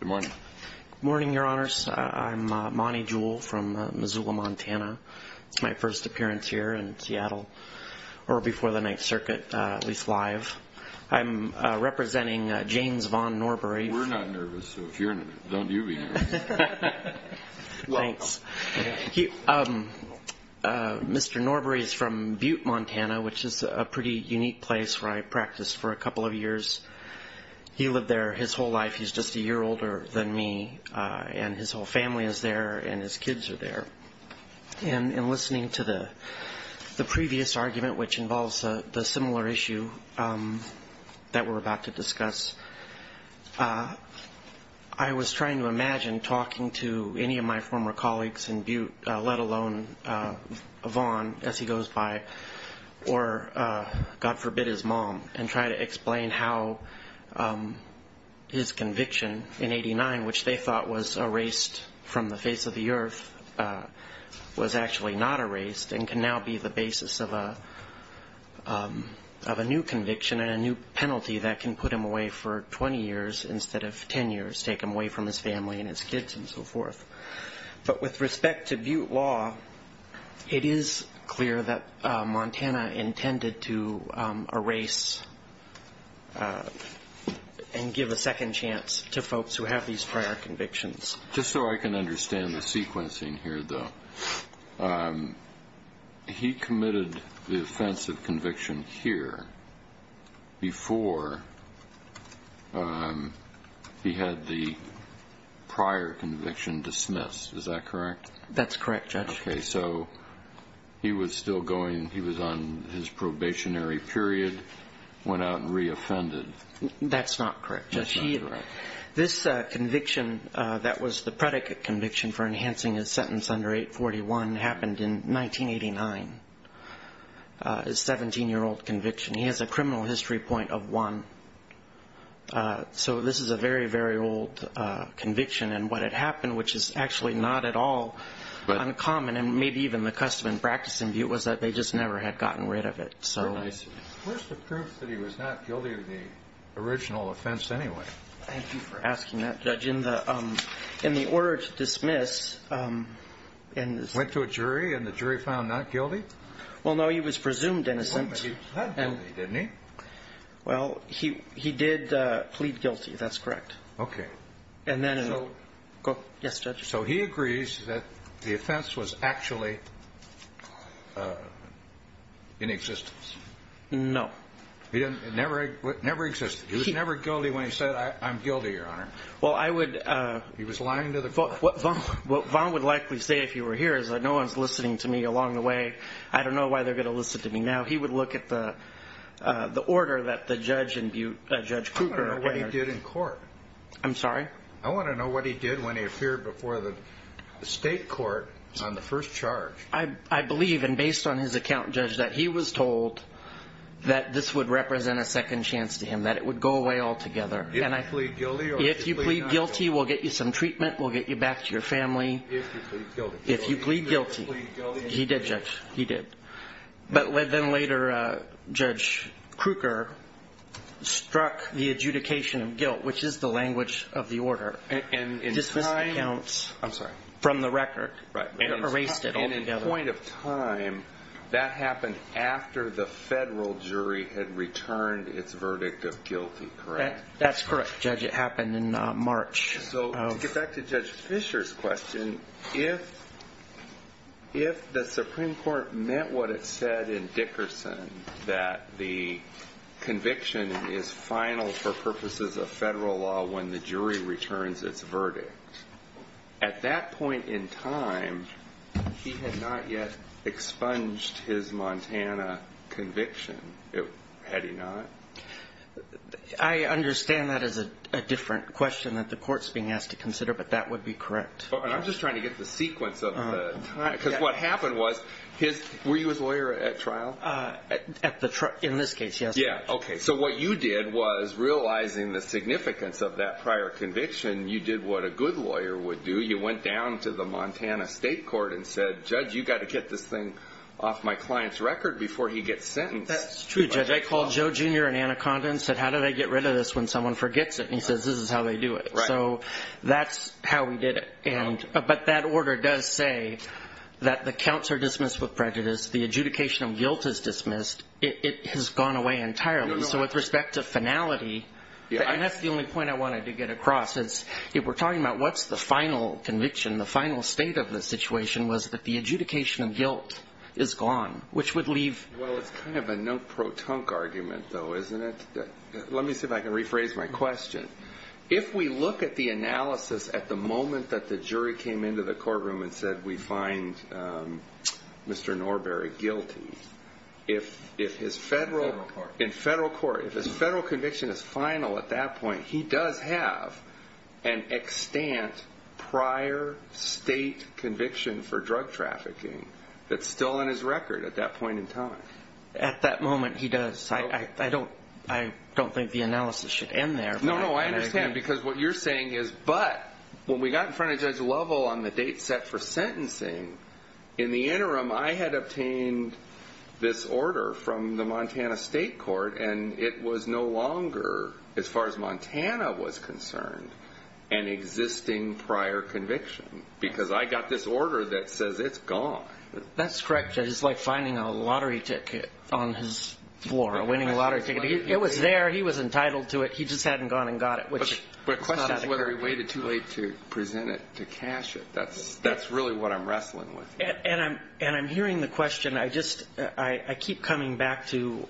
Good morning, your honors. I'm Monty Jewell from Missoula, Montana. It's my first appearance here in Seattle, or before the Ninth Circuit, at least live. I'm representing James von Norbury. Mr. Norbury is from Butte, Montana, which is a pretty unique place where I practiced for a couple of years. He lived there his whole life. He's just a year older than me, and his whole family is there, and his kids are there. In listening to the previous argument, which involves the similar issue that we're about to discuss, I was trying to imagine talking to any of my former colleagues in Butte, let alone von, as he goes by, or God forbid his mom, and try to explain how his conviction in 89, which they thought was erased from the face of the earth, was actually not erased and can now be the basis of a new conviction and a new penalty that can put him away for 20 years instead of 10 years, take him away from his family and his kids and so forth. But with respect to Butte law, it is clear that Montana intended to erase and give a second chance to folks who have these prior convictions. Just so I can understand the sequencing here, though, he committed the offense of conviction here before he had the prior conviction dismissed, is that correct? That's correct, Judge. Okay, so he was still going, he was on his probationary period, went out and re-offended. That's not correct, Judge. This conviction that was the predicate conviction for enhancing his sentence under 841 happened in 1989, a 17-year-old conviction. He has a criminal history point of one. So this is a very, very old conviction, and what had happened, which is actually not at all uncommon and maybe even the custom and practice in Butte was that they just never had gotten rid of it. So where's the proof that he was not guilty of the original offense anyway? Thank you for asking that, Judge. In the order to dismiss Went to a jury, and the jury found not guilty? Well, no, he was presumed innocent. Well, but he plead guilty, didn't he? Well, he did plead guilty. That's correct. Okay. So he agrees that the offense was actually in existence? No. It never existed. He was never guilty when he said, I'm guilty, Your Honor. He was lying to the court. What Vaughn would likely say if he were here is that no one's listening to me along the way. I don't know why they're going to listen to me now. He would look at the order that the judge in Butte, I'm sorry. I want to know what he did when he appeared before the state court on the first charge. I believe, and based on his account, Judge, that he was told that this would represent a second chance to him, that it would go away altogether. And I plead guilty. If you plead guilty, we'll get you some treatment. We'll get you back to your family. If you plead guilty, he did, Judge. He did. But then later, Judge Krueger struck the adjudication of guilt, which is the language of the order. And in time, I'm sorry, from the record, erased it altogether. And in point of time, that happened after the federal jury had returned its Supreme Court met what it said in Dickerson, that the conviction is final for purposes of federal law when the jury returns its verdict. At that point in time, he had not yet expunged his Montana conviction. Had he not? I understand that as a different question that the court's being asked to consider, but that would be correct. I'm just trying to get the sequence of it, because what happened was his lawyer at trial at the truck in this case. Yeah. OK. So what you did was realizing the significance of that prior conviction. You did what a good lawyer would do. You went down to the Montana state court and said, Judge, you got to get this thing off my client's record before he gets sentenced. That's true, Judge. I called Joe Jr. and Anna Condon said, how did I get rid of this when someone forgets it? And he says, this is how they do it. So that's how we did it. And but that order does say that the counts are dismissed with prejudice. The adjudication of guilt is dismissed. It has gone away entirely. So with respect to finality, that's the only point I wanted to get across. It's if we're talking about what's the final conviction, the final state of the situation was that the adjudication of guilt is gone, which would leave. Well, it's kind of a no pro tonk argument, though, isn't it? Let me see if I can rephrase my question. If we look at the analysis at the moment that the jury came into the courtroom and said we find Mr. Norbury guilty, if if his federal in federal court, if his federal conviction is final at that time, at that moment, he does. I don't I don't think the analysis should end there. No, no, I understand. Because what you're saying is. But when we got in front of Judge Lovell on the date set for sentencing in the interim, I had obtained this order from the Montana State Court and it was no longer, as far as Montana was concerned, an existing prior conviction because I got this order that says it's gone. That's correct. It's like finding a lottery ticket on his floor, a winning lottery ticket. It was there. He was entitled to it. He just hadn't gone and got it, which is whether he waited too late to present it, to cash it. That's that's really what I'm wrestling with. And I'm and I'm hearing the question. I just I keep coming back to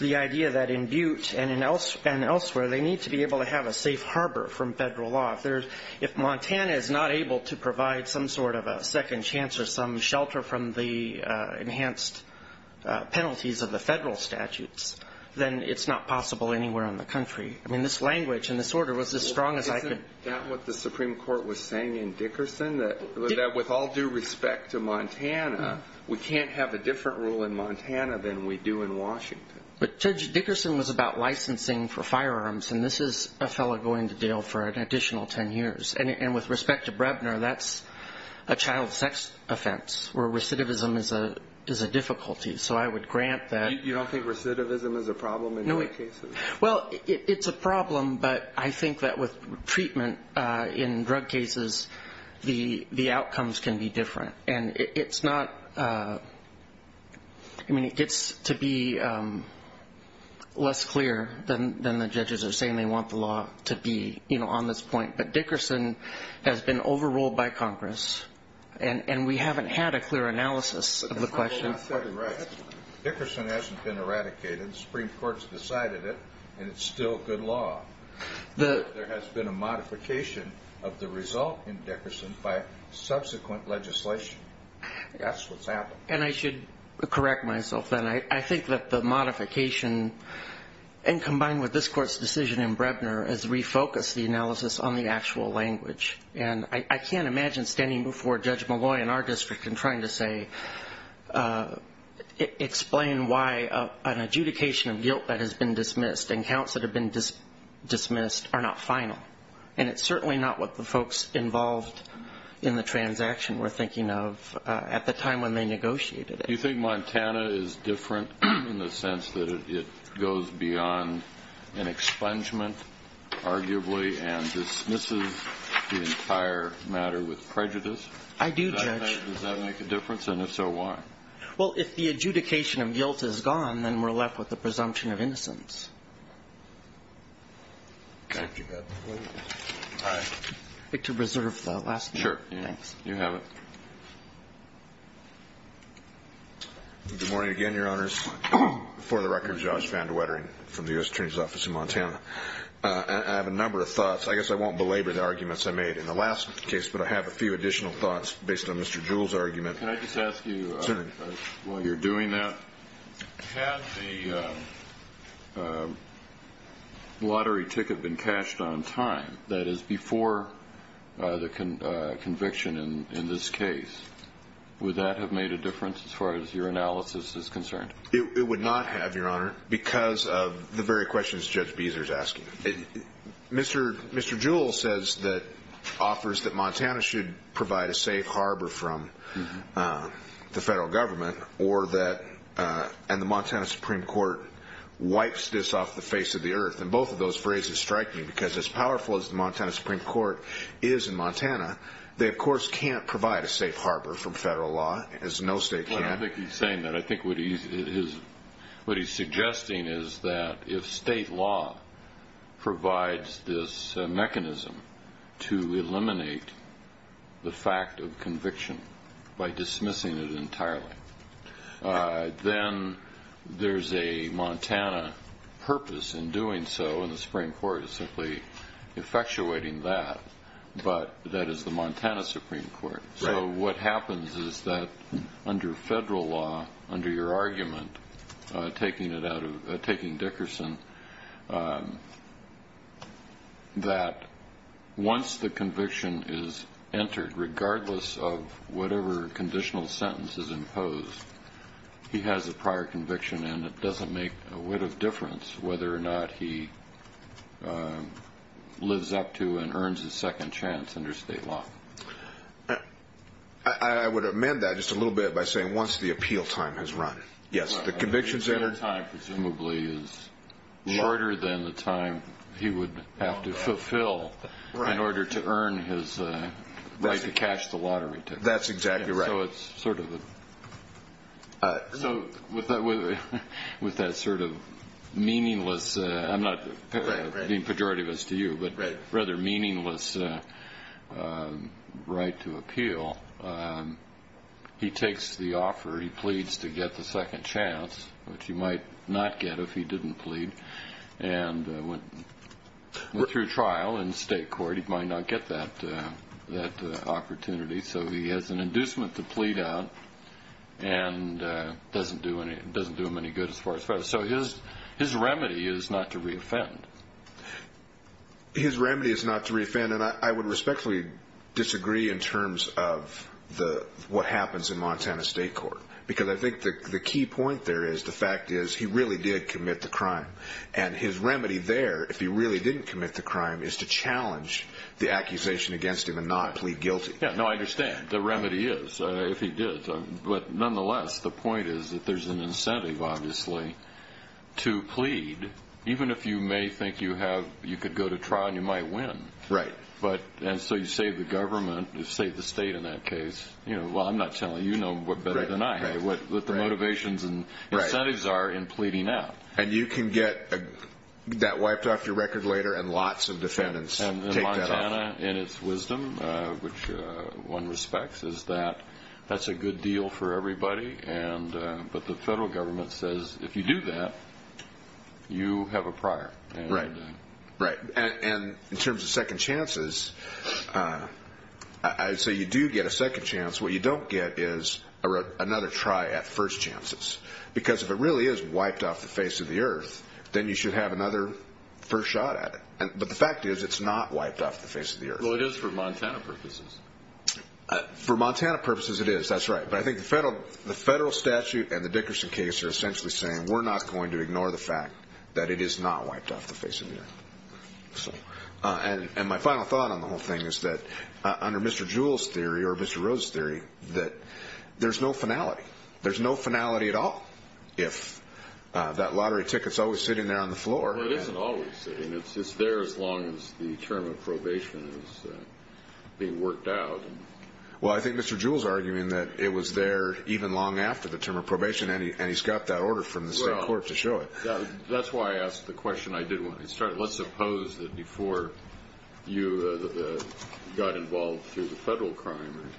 the idea that in Butte and in else and elsewhere, they need to be able to have a safe harbor from federal law. If there's if Montana is not able to provide some sort of a second chance or some shelter from the enhanced penalties of the federal statutes, then it's not possible anywhere in the country. I mean, this language and this order was as strong as I could. Is that what the Supreme Court was saying in Dickerson, that with all due respect to Montana, we can't have a different rule in Montana than we do in Washington. But Judge Dickerson was about licensing for firearms. And this is a fellow going to jail for an additional 10 years. And with respect to Brebner, that's a child sex offense where recidivism is a is a difficulty. So I would grant that. You don't think recidivism is a problem? Well, it's a problem. But I think that with treatment in drug cases, the the outcomes can be different. And it's not I mean, it gets to be less clear than the judges are saying they want the law to be on this point. But Dickerson has been overruled by Congress. And we haven't had a clear analysis of the question. Dickerson hasn't been eradicated. Supreme Court's decided it. And it's still good law. There has been a modification of the result in Dickerson by subsequent legislation. That's what's happened. And I should correct myself. And I think that the modification and combined with this court's decision in Brebner has refocused the analysis on the actual language. And I can't imagine standing before Judge Malloy in our district and trying to say, explain why an adjudication of guilt that has been dismissed and counts that have been dismissed are not final. And it's certainly not what the folks involved in the transaction were thinking of at the time when they negotiated it. Do you think Montana is different in the sense that it goes beyond an expungement, arguably, and dismisses the entire matter with prejudice? I do, Judge. Does that make a difference? And if so, why? Well, if the adjudication of guilt is gone, then we're left with the presumption of innocence. I have a number of thoughts. I guess I won't belabor the arguments I made in the last case, but I have a few additional thoughts based on Mr. Jewell's argument. Can I just ask you, while you're doing that, had the lottery ticket been cashed on time, that is, before the conviction in this case, would that have made a difference as far as your analysis is concerned? It would not have, Your Honor, because of the very questions Judge Beezer is asking. Mr. Jewell says that, offers that Montana should provide a safe harbor from the federal government, or that, and the Montana Supreme Court wipes this off the face of the earth. And both of those phrases strike me, because as powerful as the Montana Supreme Court is in Montana, they of course can't provide a safe harbor from federal law, as no state can. I think he's saying that. I think what he's suggesting is that if state law provides this mechanism to eliminate the fact of conviction by dismissing it entirely, then there's a Montana purpose in doing so, and the Supreme Court is simply effectuating that, but that is the Montana Supreme Court. So what happens is that under federal law, under your argument, taking it out of, taking Dickerson, that once the conviction is entered, regardless of whatever conditional sentence is imposed, he has a prior conviction, and it doesn't make a whit of difference whether or not he lives up to and earns a second chance under state law. I would amend that just a little bit by saying once the appeal time has run, yes, the conviction is entered. The appeal time presumably is shorter than the time he would have to fulfill in order to earn his right to cash the lottery ticket. That's exactly right. So it's sort of a, so with that sort of meaningless, I'm not being pejorativist to you, but rather meaningless right to appeal, he takes the offer, he pleads to get the second chance, which he might not get if he didn't plead, and through trial in state court, he might not get that opportunity. So he has an inducement to plead out and doesn't do him any good as far as federal. So his remedy is not to reoffend. His remedy is not to reoffend, and I would respectfully disagree in terms of what happens in Montana state court, because I think the key point there is the fact is he really did commit the crime. And his remedy there, if he really didn't commit the crime, is to challenge the accusation against him and not plead guilty. Yeah, no, I understand. The remedy is, if he did. But nonetheless, the point is that there's an incentive, obviously, to plead, even if you may think you have, you could go to trial and you might win. Right. And so you save the government, you save the state in that case. Well, I'm not telling you, you know better than I what the motivations and incentives are in pleading out. And you can get that wiped off your record later and lots of defendants take that off. Montana, in its wisdom, which one respects, is that that's a good deal for everybody, but the federal government says if you do that, you have a prior. Right, right. And in terms of second chances, I'd say you do get a second chance. What you don't get is another try at first chances, because if it really is wiped off the face of the earth, then you should have another first shot at it. But the fact is it's not wiped off the face of the earth. Well, it is for Montana purposes. For Montana purposes it is, that's right. But I think the federal statute and the Dickerson case are essentially saying we're not going to ignore the fact that it is not wiped off the face of the earth. And my final thought on the whole thing is that under Mr. Jewell's theory or Mr. Rhodes' theory, that there's no finality. There's no finality at all. If that lottery ticket's always sitting there on the floor. Well, it isn't always sitting there. It's there as long as the term of probation is being worked out. Well, I think Mr. Jewell's arguing that it was there even long after the term of probation, and he's got that order from the state court to show it. Well, that's why I asked the question I did when I started. Let's suppose that before you got involved through the federal crime,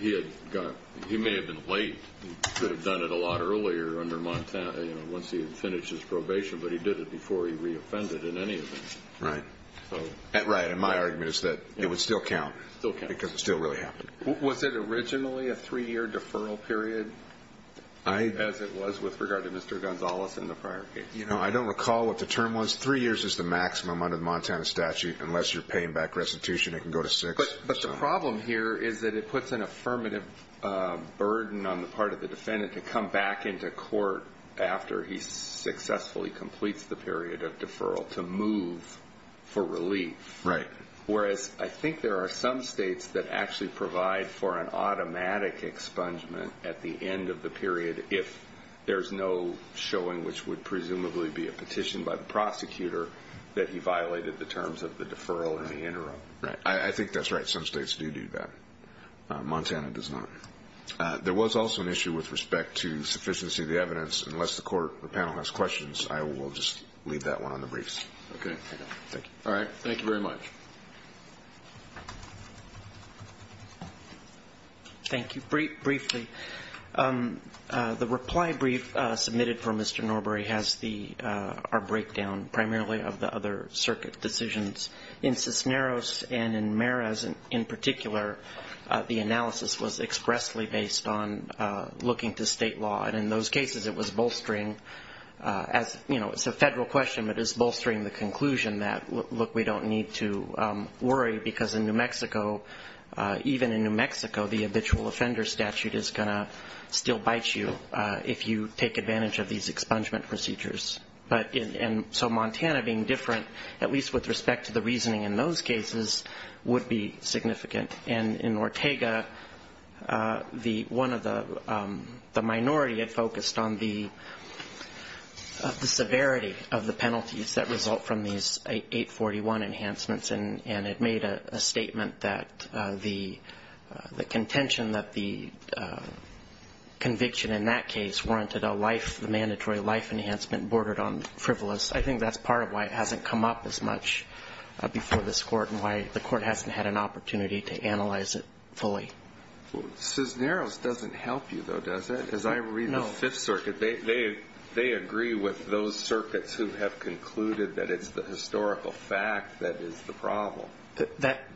he may have been late. He could have done it a lot earlier under Montana, once he had finished his probation, but he did it before he reoffended in any event. Right. Right, and my argument is that it would still count because it still really happened. Was it originally a three-year deferral period as it was with regard to Mr. Gonzalez in the prior case? I don't recall what the term was. Three years is the maximum under the Montana statute unless you're paying back restitution. It can go to six. But the problem here is that it puts an affirmative burden on the part of the defendant to come back into court after he successfully completes the period of deferral to move for relief. Right. Whereas I think there are some states that actually provide for an automatic expungement at the end of the period if there's no showing, which would presumably be a petition by the prosecutor that he violated the terms of the deferral in the interim. Right. I think that's right. Some states do do that. Montana does not. There was also an issue with respect to sufficiency of the evidence. Unless the panel has questions, I will just leave that one on the briefs. Okay. Thank you. All right. Thank you very much. Thank you. Briefly, the reply brief submitted for Mr. Norbury has our breakdown primarily of the other circuit decisions. In Cisneros and in Meraz in particular, the analysis was expressly based on looking to state law. And in those cases, it was bolstering as, you know, it's a federal question, but it's bolstering the conclusion that, look, we don't need to worry because in New Mexico, even in New Mexico, the habitual offender statute is going to still bite you if you take advantage of these expungement procedures. And so Montana being different, at least with respect to the reasoning in those cases, would be significant. And in Ortega, the one of the minority had focused on the severity of the penalties that result from these 841 enhancements. And it made a statement that the contention that the conviction in that case warranted a life, the mandatory life enhancement bordered on frivolous. I think that's part of why it hasn't come up as much before this Court and why the Court hasn't had an opportunity to analyze it fully. Cisneros doesn't help you, though, does it? No. Because I read the Fifth Circuit. They agree with those circuits who have concluded that it's the historical fact that is the problem.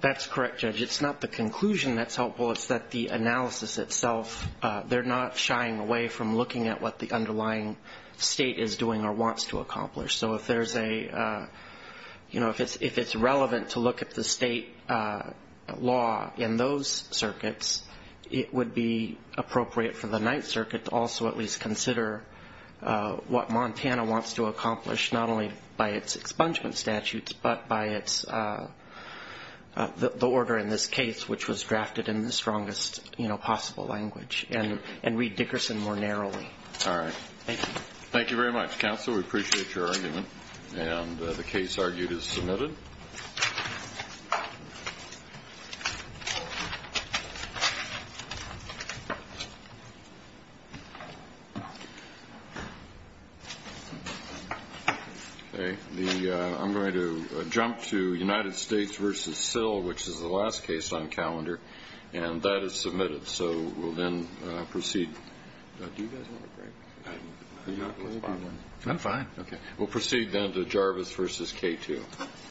That's correct, Judge. It's not the conclusion that's helpful. It's that the analysis itself, they're not shying away from looking at what the underlying state is doing or wants to accomplish. So if there's a, you know, if it's relevant to look at the state law in those circuits, it would be appropriate for the Ninth Circuit to also at least consider what Montana wants to accomplish, not only by its expungement statutes but by the order in this case, which was drafted in the strongest possible language and read Dickerson more narrowly. All right. Thank you. Thank you very much, Counsel. We appreciate your argument. And the case argued is submitted. Okay. I'm going to jump to United States v. Sill, which is the last case on calendar, and that is submitted. So we'll then proceed. Do you guys want to break? I'm fine. Okay. We'll proceed then to Jarvis v. K2.